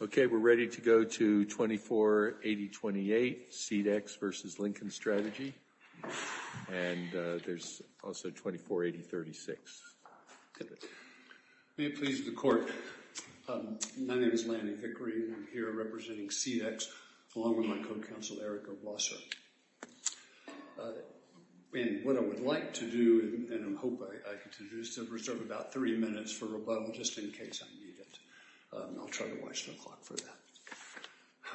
Okay, we're ready to go to 24.80.28 SeedX v. Lincoln Strategy, and there's also 24.80.36. May it please the court, my name is Lanny Hickory, and I'm here representing SeedX, along with my co-counsel, Erica Wasser. And what I would like to do, and I hope I can do, is to reserve about three minutes for rebuttal, just in case I need it. I'll try to watch the clock for that.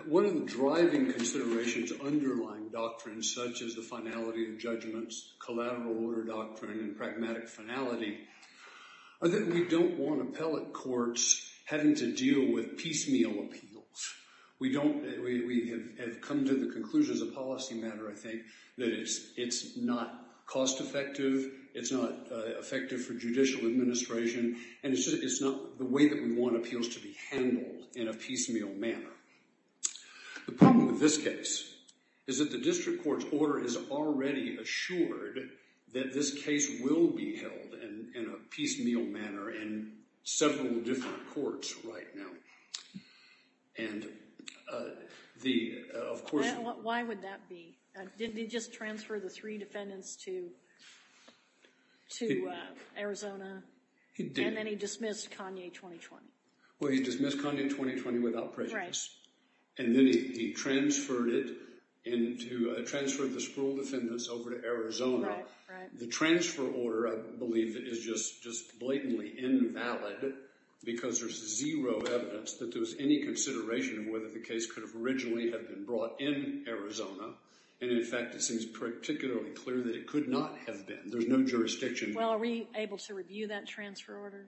One of the driving considerations underlying doctrines, such as the finality of judgments, collateral order doctrine, and pragmatic finality, are that we don't want appellate courts having to deal with piecemeal appeals. We have come to the conclusion as a policy matter, I think, that it's not cost effective, it's not effective for judicial administration, and it's not the way that we want appeals to be handled in a piecemeal manner. The problem with this case is that the district court's order is already assured that this case will be held in a piecemeal manner in several different courts right now. And the, of course... Why would that be? Didn't he just transfer the three defendants to Arizona? He did. And then he dismissed Kanye 2020. Well, he dismissed Kanye 2020 without prejudice. And then he transferred it, transferred the Sproul defendants over to Arizona. Right, right. The transfer order, I believe, is just blatantly invalid because there's zero evidence that there was any consideration of whether the case could have originally have been brought in Arizona. And, in fact, it seems particularly clear that it could not have been. There's no jurisdiction. Well, are we able to review that transfer order?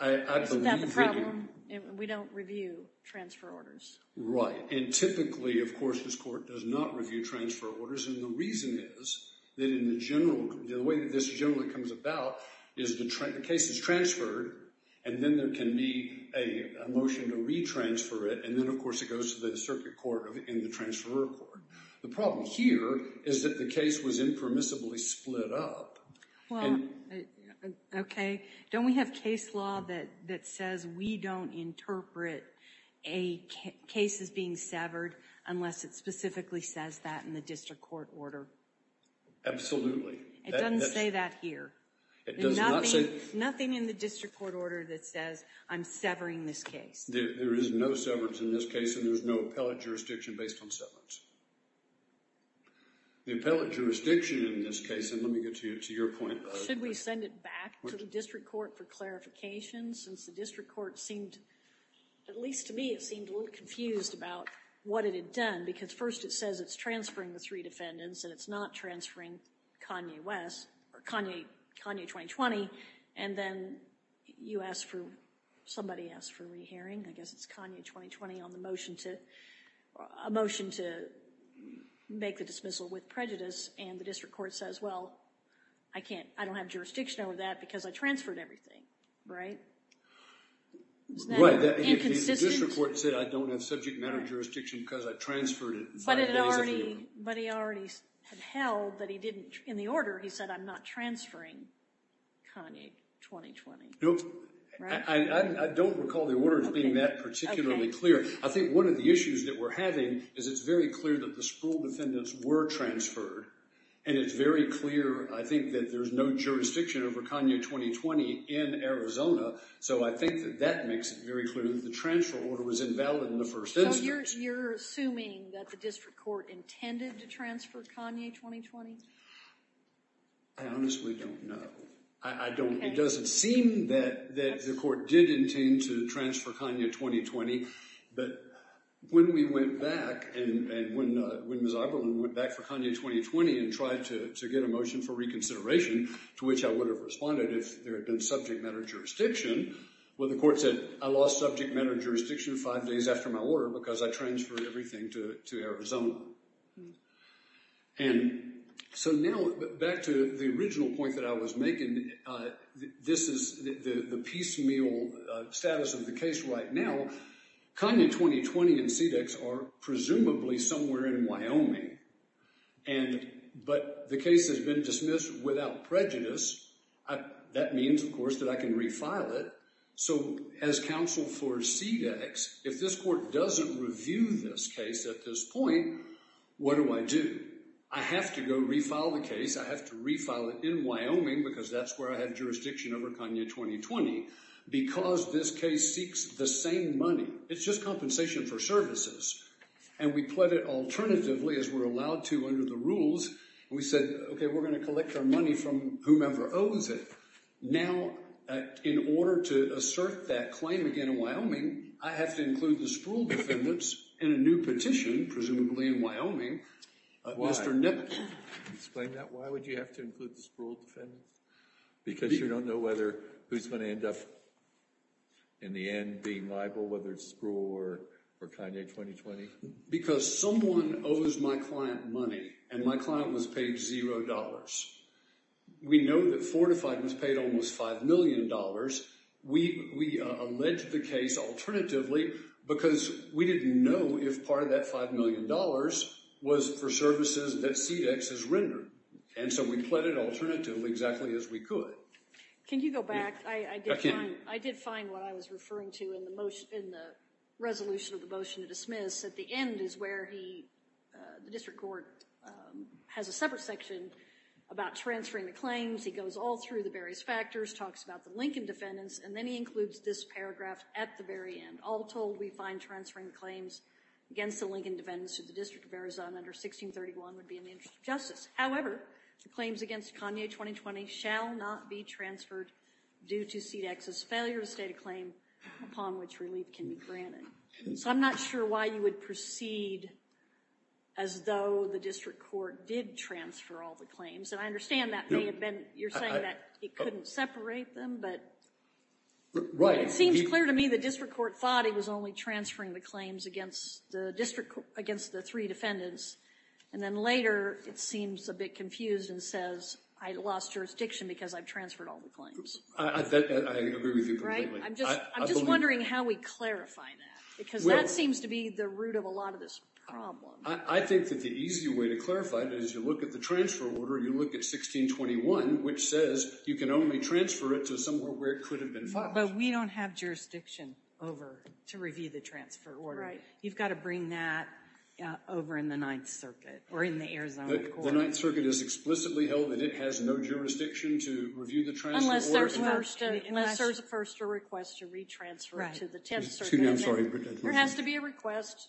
I believe we do. Isn't that the problem? We don't review transfer orders. Right. And typically, of course, this court does not review transfer orders. And the reason is that in the general, the way that this generally comes about is the case is transferred, and then there can be a motion to retransfer it. And then, of course, it goes to the circuit court and the transferor court. The problem here is that the case was impermissibly split up. Well, okay. Don't we have case law that says we don't interpret cases being severed unless it specifically says that in the district court order? Absolutely. It doesn't say that here. It does not say? Nothing in the district court order that says I'm severing this case. There is no severance in this case, and there's no appellate jurisdiction based on severance. The appellate jurisdiction in this case, and let me get to your point. Should we send it back to the district court for clarification, since the district court seemed, at least to me, it seemed a little confused about what it had done, because first it says it's transferring the three defendants, and it's not transferring Kanye West, or Kanye 2020, and then you asked for, somebody asked for re-hearing, I guess it's Kanye 2020 on the motion to, a motion to make the dismissal with prejudice, and the district court says, well, I can't, I don't have jurisdiction over that because I transferred everything, right? Right. Isn't that inconsistent? The district court said I don't have subject matter jurisdiction because I transferred it. But it already, but he already had held that he didn't, in the order he said I'm not transferring Kanye 2020. Nope. Right? I don't recall the order being that particularly clear. Okay. One of the issues that we're having is it's very clear that the Spruill defendants were transferred, and it's very clear, I think, that there's no jurisdiction over Kanye 2020 in Arizona, so I think that that makes it very clear that the transfer order was invalid in the first instance. So you're assuming that the district court intended to transfer Kanye 2020? I honestly don't know. I don't, it doesn't seem that the court did intend to transfer Kanye 2020, but when we went back and when Ms. Oberlin went back for Kanye 2020 and tried to get a motion for reconsideration, to which I would have responded if there had been subject matter jurisdiction, well, the court said I lost subject matter jurisdiction five days after my order because I transferred everything to Arizona. And so now, back to the original point that I was making, this is the piecemeal status of the case right now. Kanye 2020 and CDEX are presumably somewhere in Wyoming, but the case has been dismissed without prejudice. That means, of course, that I can refile it. So as counsel for CDEX, if this court doesn't review this case at this point, what do I do? I have to go refile the case. I have to refile it in Wyoming because that's where I have jurisdiction over Kanye 2020 because this case seeks the same money. It's just compensation for services. And we pled it alternatively, as we're allowed to under the rules, and we said, okay, we're going to collect our money from whomever owes it. Now, in order to assert that claim again in Wyoming, I have to include the Spruill defendants in a new petition, presumably in Wyoming. Why? Explain that. Why would you have to include the Spruill defendants? Because you don't know whether who's going to end up in the end being liable, whether it's Spruill or Kanye 2020? Because someone owes my client money, and my client was paid $0. We know that Fortified was paid almost $5 million. We alleged the case alternatively because we didn't know if part of that $5 million was for services that CDEX has rendered. And so we pled it alternatively, exactly as we could. Can you go back? I did find what I was referring to in the resolution of the motion to dismiss. At the end is where the district court has a separate section about transferring the claims. He goes all through the various factors, talks about the Lincoln defendants, and then he includes this paragraph at the very end. All told, we find transferring claims against the Lincoln defendants to the District of Arizona under 1631 would be in the interest of justice. However, the claims against Kanye 2020 shall not be transferred due to CDEX's failure to state a claim upon which relief can be granted. So I'm not sure why you would proceed as though the district court did transfer all the claims. And I understand that may have been, you're saying that it couldn't separate them, but it seems clear to me the district court thought it was only transferring the claims against the three defendants. And then later it seems a bit confused and says, I lost jurisdiction because I've transferred all the claims. I agree with you completely. I'm just wondering how we clarify that, because that seems to be the root of a lot of this problem. I think that the easy way to clarify it is you look at the transfer order, you look at 1621, which says you can only transfer it to somewhere where it could have been filed. But we don't have jurisdiction over to review the transfer order. Right. You've got to bring that over in the Ninth Circuit or in the Arizona court. The Ninth Circuit has explicitly held that it has no jurisdiction to review the transfer order. Unless there's first a request to retransfer to the Tenth Circuit. Excuse me, I'm sorry. There has to be a request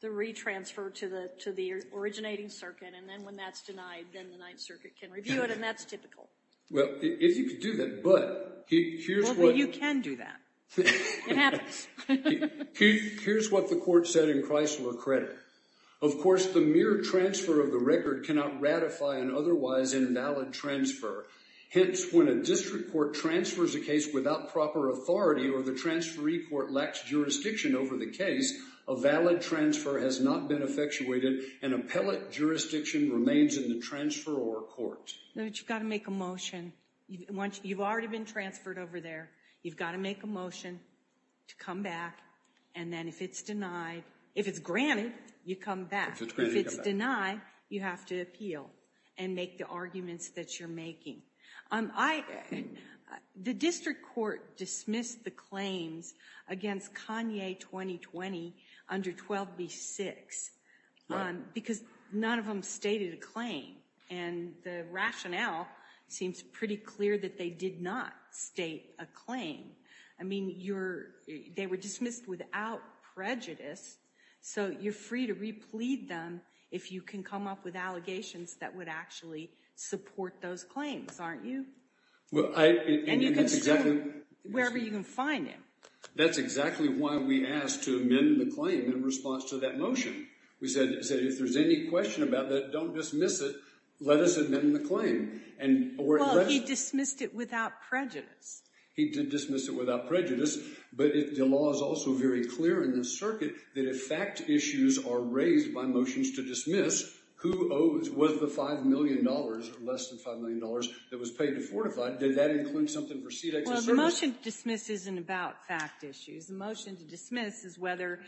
to retransfer to the originating circuit. And then when that's denied, then the Ninth Circuit can review it. And that's typical. Well, if you could do that, but here's what. Well, you can do that. It happens. Here's what the court said in Chrysler Credit. Of course, the mere transfer of the record cannot ratify an otherwise invalid transfer. Hence, when a district court transfers a case without proper authority or the transferee court lacks jurisdiction over the case, a valid transfer has not been effectuated and appellate jurisdiction remains in the transferor court. You've got to make a motion. You've already been transferred over there. You've got to make a motion to come back. And then if it's denied, if it's granted, you come back. If it's denied, you have to appeal and make the arguments that you're making. The district court dismissed the claims against Kanye 2020 under 12b-6 because none of them stated a claim. And the rationale seems pretty clear that they did not state a claim. I mean, they were dismissed without prejudice, so you're free to replead them if you can come up with allegations that would actually support those claims, aren't you? And you can sue wherever you can find him. That's exactly why we asked to amend the claim in response to that motion. We said, if there's any question about that, don't dismiss it. Let us amend the claim. Well, he dismissed it without prejudice. He did dismiss it without prejudice, but the law is also very clear in this circuit that if fact issues are raised by motions to dismiss, who owes, was the $5 million or less than $5 million that was paid to Fortified? Did that include something for CTEX to serve? Well, the motion to dismiss isn't about fact issues. The motion to dismiss is whether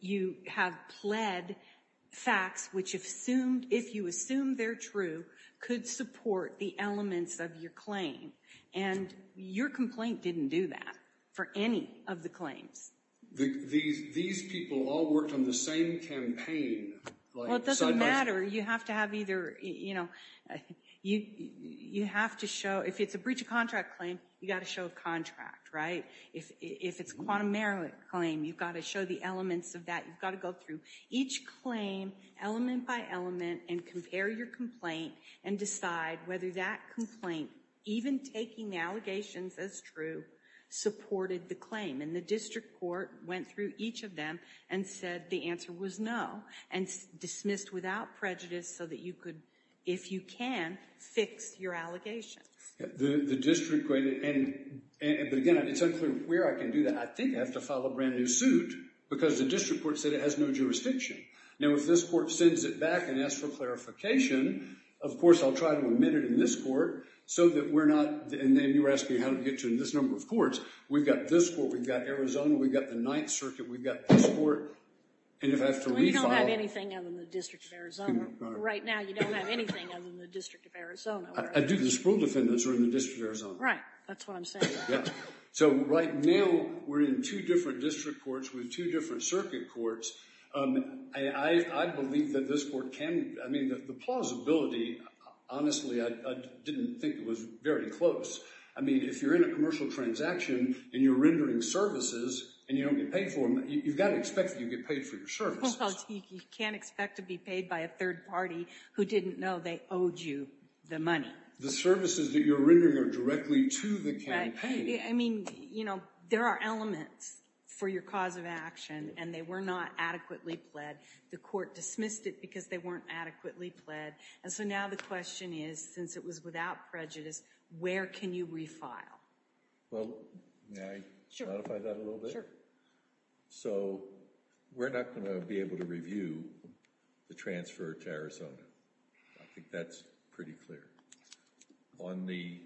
you have pled facts which, if you assume they're true, could support the elements of your claim. And your complaint didn't do that for any of the claims. These people all worked on the same campaign. Well, it doesn't matter. You have to have either, you know, you have to show, if it's a breach of contract claim, you've got to show a contract, right? If it's a quantum merit claim, you've got to show the elements of that. You've got to go through each claim element by element and compare your complaint and decide whether that complaint, even taking the allegations as true, supported the claim. And the district court went through each of them and said the answer was no, and dismissed without prejudice so that you could, if you can, fix your allegations. The district court, but again, it's unclear where I can do that. I think I have to file a brand new suit because the district court said it has no jurisdiction. Now, if this court sends it back and asks for clarification, of course, I'll try to admit it in this court so that we're not, and then you were asking how to get to this number of courts. We've got this court, we've got Arizona, we've got the Ninth Circuit, we've got this court, and if I have to refile. Well, you don't have anything other than the District of Arizona. Right now, you don't have anything other than the District of Arizona. I do. The Sproul defendants are in the District of Arizona. Right. That's what I'm saying. So right now, we're in two different district courts with two different circuit courts. I believe that this court can, I mean, the plausibility, honestly, I didn't think it was very close. I mean, if you're in a commercial transaction and you're rendering services and you don't get paid for them, you've got to expect that you get paid for your services. Well, you can't expect to be paid by a third party who didn't know they owed you the money. The services that you're rendering are directly to the campaign. I mean, you know, there are elements for your cause of action and they were not adequately pled. The court dismissed it because they weren't adequately pled. And so now the question is, since it was without prejudice, where can you refile? Well, may I modify that a little bit? Sure. So we're not going to be able to review the transfer to Arizona. I think that's pretty clear. On the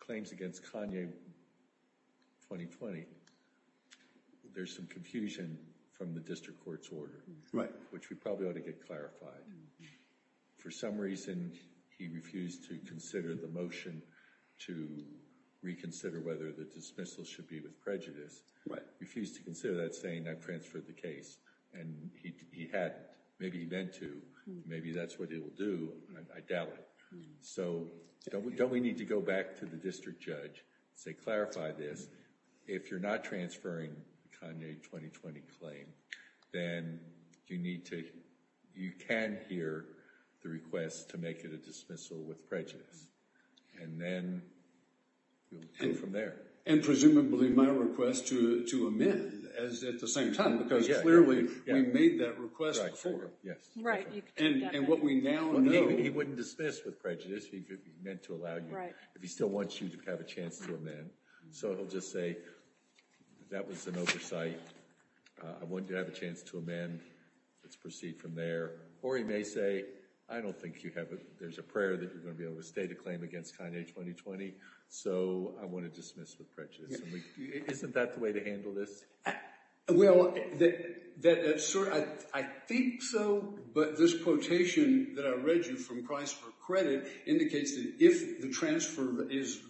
claims against Kanye 2020, there's some confusion from the district court's order. Right. Which we probably ought to get clarified. For some reason, he refused to consider the motion to reconsider whether the dismissal should be with prejudice. Right. He refused to consider that saying, I transferred the case. And he had, maybe he meant to. Maybe that's what he will do. I doubt it. So don't we need to go back to the district judge and say, clarify this. If you're not transferring the Kanye 2020 claim, then you need to, you can hear the request to make it a dismissal with prejudice. And then we'll go from there. And presumably my request to amend at the same time, because clearly we made that request before. Right. And what we now know. He wouldn't dismiss with prejudice. He meant to allow you, if he still wants you to have a chance to amend. So he'll just say, that was an oversight. I wanted to have a chance to amend. Let's proceed from there. Or he may say, I don't think you have, there's a prayer that you're going to be able to stay to claim against Kanye 2020. So I want to dismiss with prejudice. Isn't that the way to handle this? Well, I think so. But this quotation that I read you from Price for Credit indicates that if the transfer is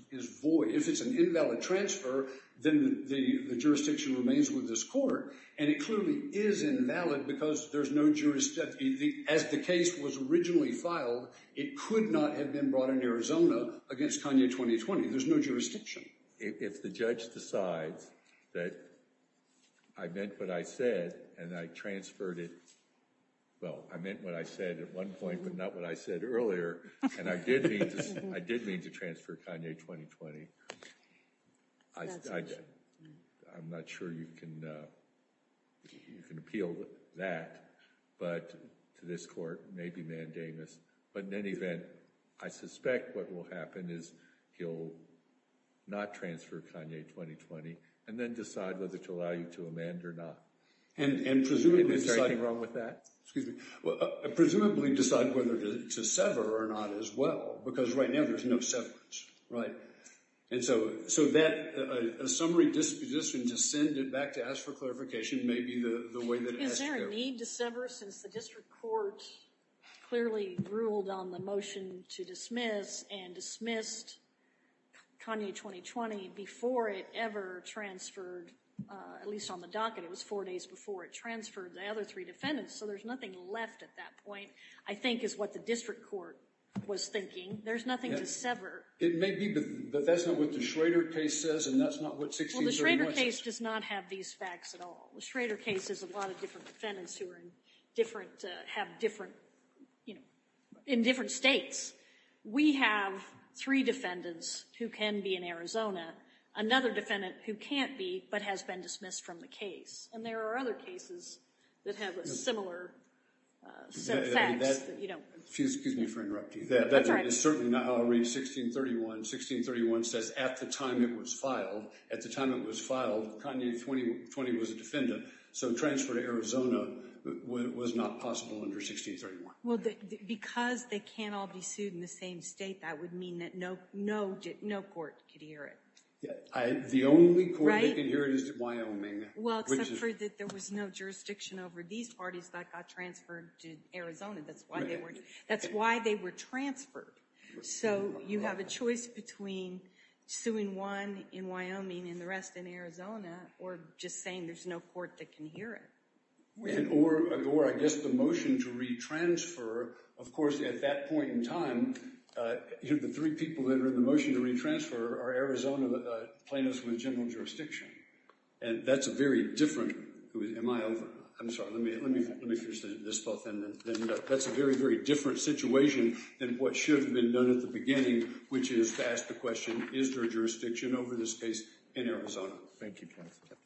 void, if it's an invalid transfer, then the jurisdiction remains with this court. And it clearly is invalid because there's no jurisdiction. As the case was originally filed, it could not have been brought in Arizona against Kanye 2020. There's no jurisdiction. If the judge decides that I meant what I said and I transferred it. Well, I meant what I said at one point, but not what I said earlier. And I did mean to transfer Kanye 2020. I'm not sure you can appeal that. But to this court, it may be mandamus. But in any event, I suspect what will happen is he'll not transfer Kanye 2020 and then decide whether to allow you to amend or not. And presumably, is there anything wrong with that? Excuse me. Presumably decide whether to sever or not as well, because right now there's no severance. Right. And so that summary disposition to send it back to ask for clarification may be the way that it has to go. There's no need to sever since the district court clearly ruled on the motion to dismiss and dismissed Kanye 2020 before it ever transferred. At least on the docket, it was four days before it transferred the other three defendants. So there's nothing left at that point, I think, is what the district court was thinking. There's nothing to sever. It may be, but that's not what the Schrader case says and that's not what 1631 says. Well, the Schrader case does not have these facts at all. The Schrader case is a lot of different defendants who are in different, have different, you know, in different states. We have three defendants who can be in Arizona, another defendant who can't be but has been dismissed from the case. And there are other cases that have a similar set of facts that you don't. Excuse me for interrupting. That's all right. And it's certainly not how I read 1631. 1631 says at the time it was filed, at the time it was filed, Kanye 2020 was a defendant. So transfer to Arizona was not possible under 1631. Well, because they can't all be sued in the same state, that would mean that no court could hear it. The only court that can hear it is Wyoming. Well, except for that there was no jurisdiction over these parties that got transferred to Arizona. That's why they were transferred. So you have a choice between suing one in Wyoming and the rest in Arizona or just saying there's no court that can hear it. Or I guess the motion to retransfer, of course, at that point in time, the three people that are in the motion to retransfer are Arizona plaintiffs with general jurisdiction. And that's a very different, am I over? I'm sorry. Let me finish this thought then. That's a very, very different situation than what should have been done at the beginning, which is to ask the question, is there a jurisdiction over this case in Arizona? Thank you, counsel.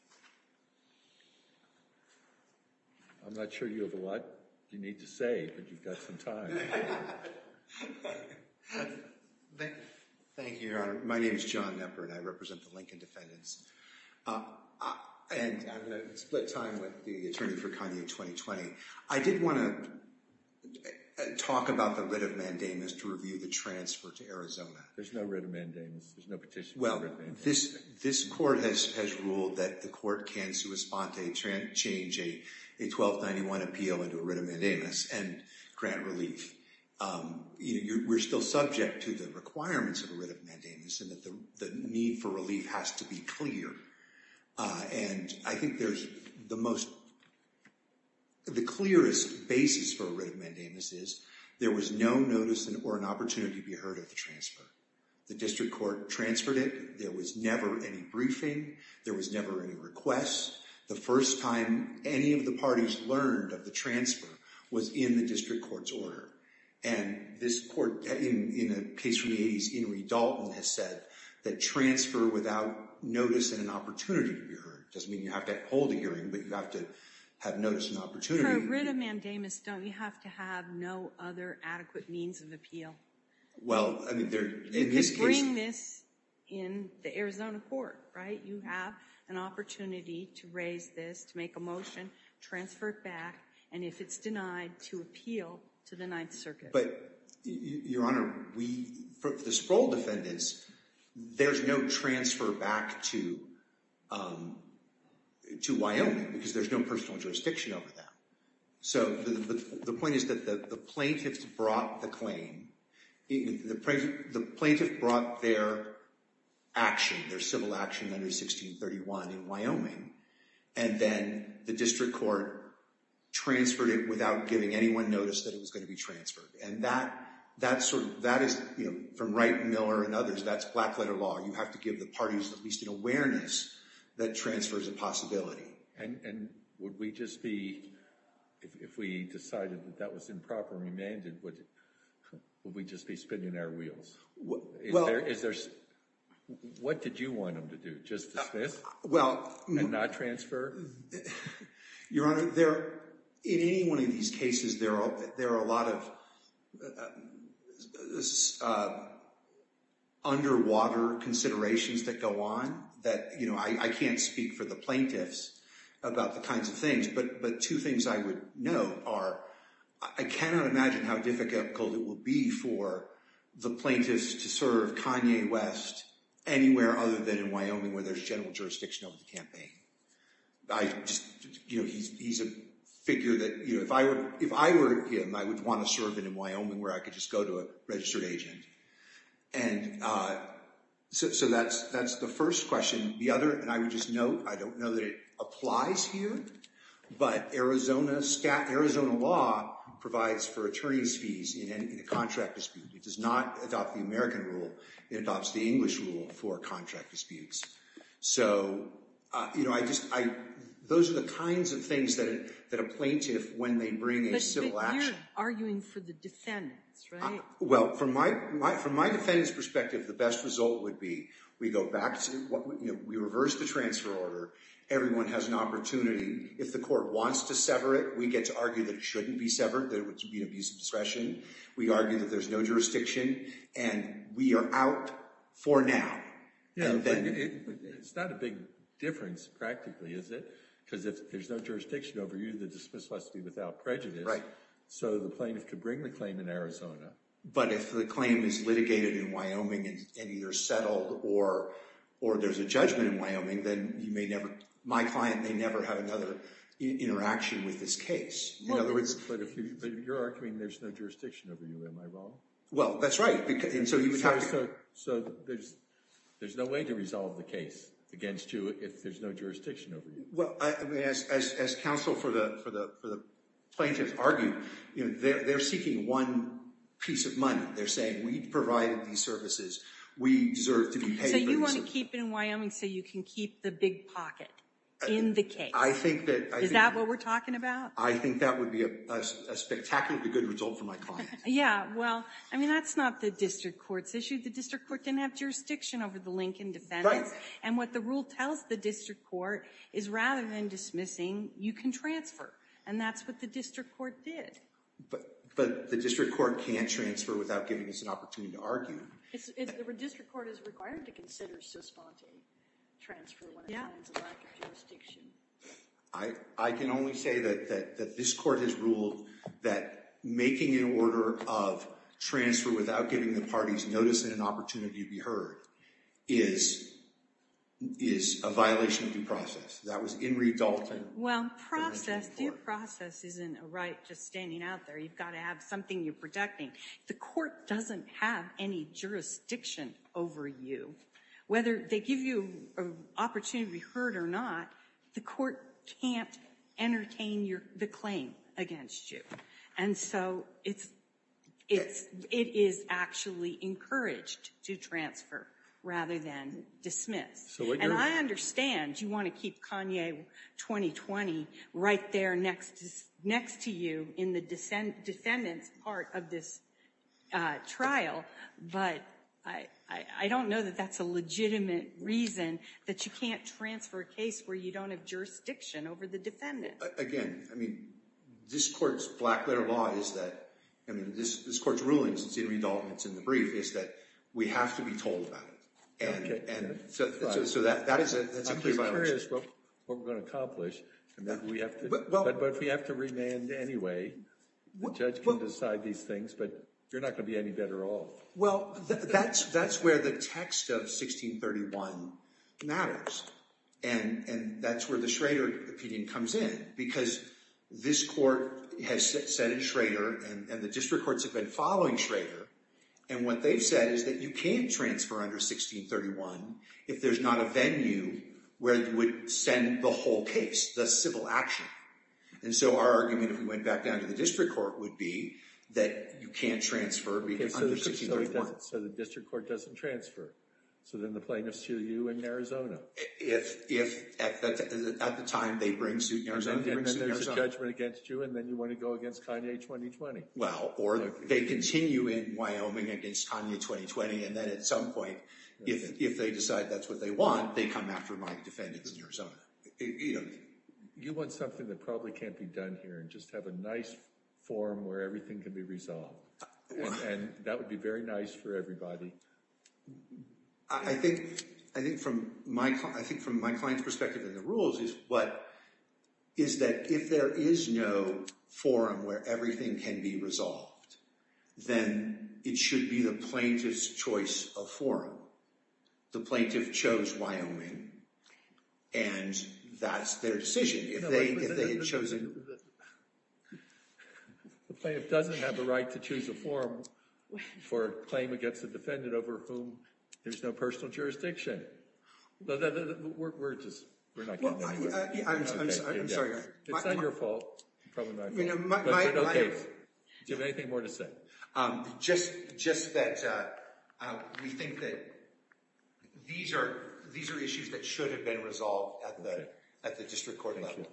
I'm not sure you have a lot you need to say, but you've got some time. Thank you, Your Honor. My name is John Knepper, and I represent the Lincoln defendants. And I'm going to split time with the attorney for Kanye 2020. I did want to talk about the writ of mandamus to review the transfer to Arizona. There's no writ of mandamus. There's no petition for writ of mandamus. Well, this court has ruled that the court can sua sponte change a 1291 appeal into a writ of mandamus and grant relief. We're still subject to the requirements of a writ of mandamus and that the need for relief has to be clear. And I think there's the most, the clearest basis for a writ of mandamus is there was no notice or an opportunity to be heard of the transfer. The district court transferred it. There was never any briefing. There was never any requests. The first time any of the parties learned of the transfer was in the district court's order. And this court, in a case from the 80s, Henry Dalton, has said that transfer without notice and an opportunity to be heard doesn't mean you have to hold a hearing, but you have to have notice and opportunity. For a writ of mandamus, don't you have to have no other adequate means of appeal? Well, I mean, in this case. You could bring this in the Arizona court, right? You have an opportunity to raise this, to make a motion, transfer it back, and if it's denied, to appeal to the Ninth Circuit. But, Your Honor, for the Sproul defendants, there's no transfer back to Wyoming because there's no personal jurisdiction over that. So, the point is that the plaintiffs brought the claim. The plaintiff brought their action, their civil action under 1631 in Wyoming, and then the district court transferred it without giving anyone notice that it was going to be transferred. And that is, from Wright and Miller and others, that's black-letter law. You have to give the parties at least an awareness that transfer is a possibility. And would we just be, if we decided that that was improperly mandated, would we just be spinning our wheels? What did you want them to do? Just dismiss and not transfer? Your Honor, in any one of these cases, there are a lot of underwater considerations that go on that, you know, I can't speak for the plaintiffs about the kinds of things. But two things I would note are I cannot imagine how difficult it will be for the plaintiffs to serve Kanye West anywhere other than in Wyoming where there's general jurisdiction over the campaign. I just, you know, he's a figure that, you know, if I were him, I would want to serve him in Wyoming where I could just go to a registered agent. And so that's the first question. The other, and I would just note, I don't know that it applies here, but Arizona law provides for attorney's fees in a contract dispute. It does not adopt the American rule. It adopts the English rule for contract disputes. So, you know, I just, those are the kinds of things that a plaintiff, when they bring a civil action. But you're arguing for the defendants, right? Well, from my defendant's perspective, the best result would be we go back to, you know, we reverse the transfer order. Everyone has an opportunity. If the court wants to sever it, we get to argue that it shouldn't be severed, that it would be an abuse of discretion. We argue that there's no jurisdiction, and we are out for now. Yeah, but it's not a big difference practically, is it? Because if there's no jurisdiction over you, the dismissal has to be without prejudice. Right. So the plaintiff could bring the claim in Arizona. But if the claim is litigated in Wyoming and either settled or there's a judgment in Wyoming, then you may never, my client may never have another interaction with this case. No, but you're arguing there's no jurisdiction over you. Am I wrong? Well, that's right. So there's no way to resolve the case against you if there's no jurisdiction over you. Well, as counsel for the plaintiff argued, you know, they're seeking one piece of money. They're saying we've provided these services. We deserve to be paid for these services. So you want to keep it in Wyoming so you can keep the big pocket in the case. I think that— Is that what we're talking about? I think that would be a spectacularly good result for my client. Yeah, well, I mean, that's not the district court's issue. The district court didn't have jurisdiction over the Lincoln defendants. Right. And what the rule tells the district court is rather than dismissing, you can transfer. And that's what the district court did. But the district court can't transfer without giving us an opportunity to argue. The district court is required to consider suspending transfer when it finds a lack of jurisdiction. I can only say that this court has ruled that making an order of transfer without giving the parties notice and an opportunity to be heard is a violation of due process. That was Inree Dalton. Well, due process isn't a right just standing out there. You've got to have something you're protecting. The court doesn't have any jurisdiction over you. Whether they give you an opportunity to be heard or not, the court can't entertain the claim against you. And so it is actually encouraged to transfer rather than dismiss. And I understand you want to keep Kanye 2020 right there next to you in the defendant's part of this trial, but I don't know that that's a legitimate reason that you can't transfer a case where you don't have jurisdiction over the defendant. Again, I mean, this court's black letter law is that, I mean, this court's ruling since Inree Dalton's in the brief is that we have to be told about it. And so that is a clear violation. I'm curious what we're going to accomplish. But we have to remand anyway. The judge can decide these things, but you're not going to be any better off. Well, that's where the text of 1631 matters. And that's where the Schrader opinion comes in because this court has said in Schrader and the district courts have been following Schrader. And what they've said is that you can't transfer under 1631 if there's not a venue where you would send the whole case, the civil action. And so our argument, if we went back down to the district court, would be that you can't transfer under 1631. So the district court doesn't transfer. So then the plaintiffs sue you in Arizona. If at the time they bring suit in Arizona, they bring suit in Arizona. And then there's a judgment against you and then you want to go against Kanye 2020. Well, or they continue in Wyoming against Kanye 2020. And then at some point, if they decide that's what they want, they come after my defendants in Arizona. You want something that probably can't be done here and just have a nice forum where everything can be resolved. And that would be very nice for everybody. I think from my client's perspective in the rules is that if there is no forum where everything can be resolved, then it should be the plaintiff's choice of forum. The plaintiff chose Wyoming and that's their decision. The plaintiff doesn't have the right to choose a forum for a claim against a defendant over whom there's no personal jurisdiction. We're just, we're not. I'm sorry. It's not your fault. Do you have anything more to say? Just just that we think that these are these are issues that should have been resolved at the at the district court level.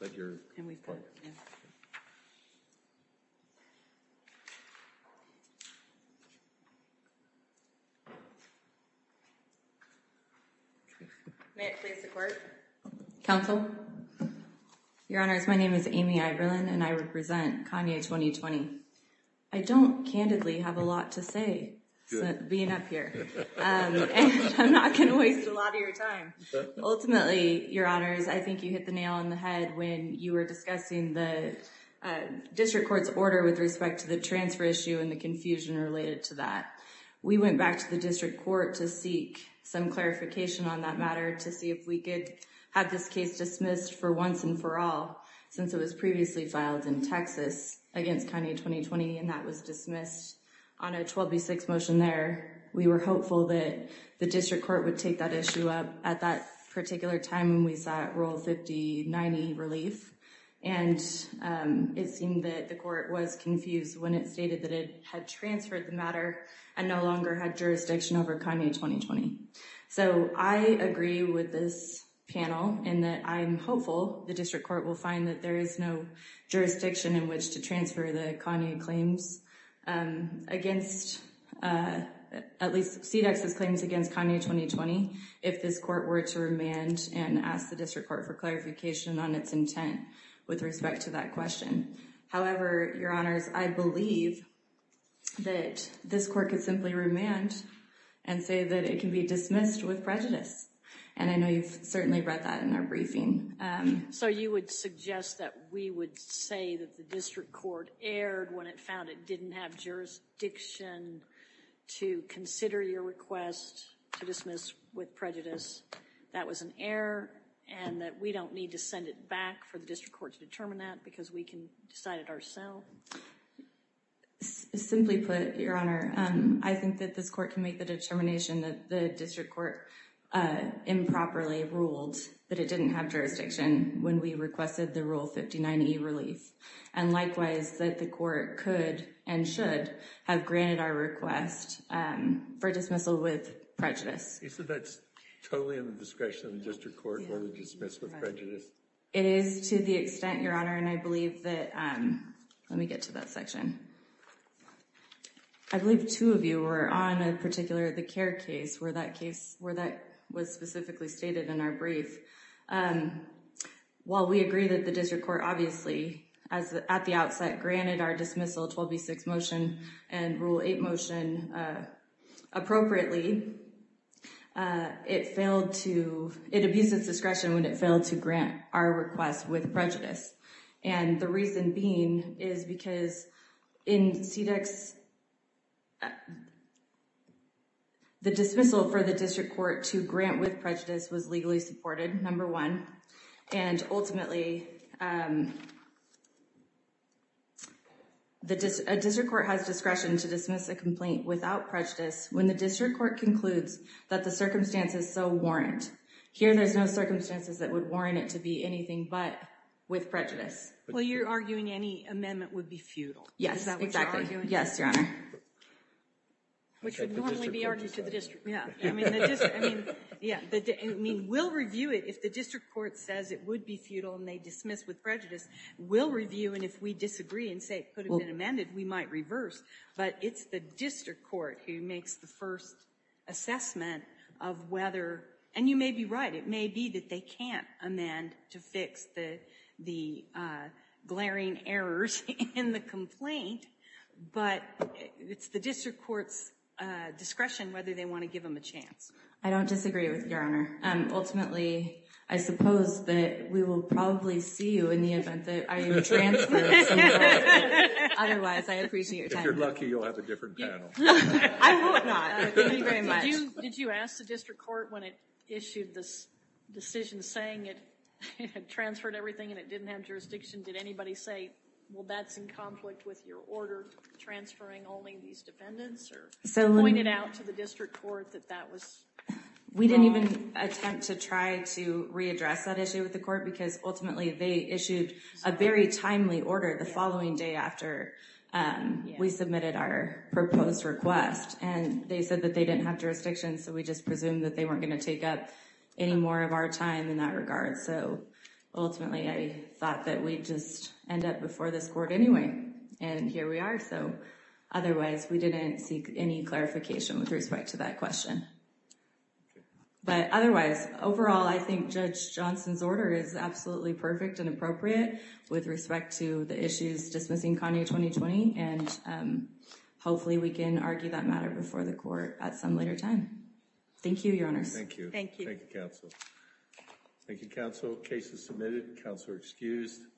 But you're and we've got. May it please the court. Counsel. Your Honor, my name is Amy and I represent Kanye 2020. I don't candidly have a lot to say being up here. I'm not going to waste a lot of your time. Ultimately, your honors, I think you hit the nail on the head when you were discussing the district court's order with respect to the transfer issue and the confusion related to that. We went back to the district court to seek some clarification on that matter to see if we could have this case dismissed for once and for all. Since it was previously filed in Texas against Kanye 2020 and that was dismissed on a 126 motion there, we were hopeful that the district court would take that issue up at that particular time. We saw role 5090 relief. And it seemed that the court was confused when it stated that it had transferred the matter and no longer had jurisdiction over Kanye 2020. So I agree with this panel and that I'm hopeful the district court will find that there is no jurisdiction in which to transfer the Kanye claims against at least see Texas claims against Kanye 2020. If this court were to remand and ask the district court for clarification on its intent with respect to that question. However, your honors, I believe that this court could simply remand and say that it can be dismissed with prejudice. And I know you've certainly read that in our briefing. So you would suggest that we would say that the district court erred when it found it didn't have jurisdiction to consider your request to dismiss with prejudice. That was an error and that we don't need to send it back for the district court to determine that because we can decide it ourselves. Simply put, your honor, I think that this court can make the determination that the district court improperly ruled that it didn't have jurisdiction when we requested the rule 5090 relief. And likewise, that the court could and should have granted our request for dismissal with prejudice. So that's totally in the discretion of the district court where we dismiss with prejudice. It is to the extent, your honor, and I believe that let me get to that section. I believe two of you were on a particular the care case where that case where that was specifically stated in our brief. While we agree that the district court obviously as at the outset granted our dismissal 12B6 motion and rule 8 motion appropriately, it failed to it abuses discretion when it failed to grant our request with prejudice. And the reason being is because in CDEX, the dismissal for the district court to grant with prejudice was legally supported, number one. And ultimately, a district court has discretion to dismiss a complaint without prejudice when the district court concludes that the circumstances so warrant. Here, there's no circumstances that would warrant it to be anything but with prejudice. Well, you're arguing any amendment would be futile. Yes, exactly. Is that what you're arguing? Yes, your honor. Which would normally be argued to the district. Yeah. I mean, we'll review it. If the district court says it would be futile and they dismiss with prejudice, we'll review. And if we disagree and say it could have been amended, we might reverse. But it's the district court who makes the first assessment of whether, and you may be right, it may be that they can't amend to fix the glaring errors in the complaint. But it's the district court's discretion whether they want to give them a chance. I don't disagree with you, your honor. Ultimately, I suppose that we will probably see you in the event that I am transferred. Otherwise, I appreciate your time. If you're lucky, you'll have a different panel. I hope not. Thank you very much. Did you ask the district court when it issued this decision saying it had transferred everything and it didn't have jurisdiction, did anybody say, well, that's in conflict with your order transferring only these defendants? Or pointed out to the district court that that was wrong? We didn't even attempt to try to readdress that issue with the court because ultimately they issued a very timely order the following day after we submitted our proposed request. And they said that they didn't have jurisdiction, so we just presumed that they weren't going to take up any more of our time in that regard. So ultimately, I thought that we'd just end up before this court anyway. And here we are. So otherwise, we didn't seek any clarification with respect to that question. But otherwise, overall, I think Judge Johnson's order is absolutely perfect and appropriate with respect to the issues dismissing Kanye 2020. And hopefully we can argue that matter before the court at some later time. Thank you, your honors. Thank you, counsel. Thank you, counsel. Case is submitted. Counselor excused.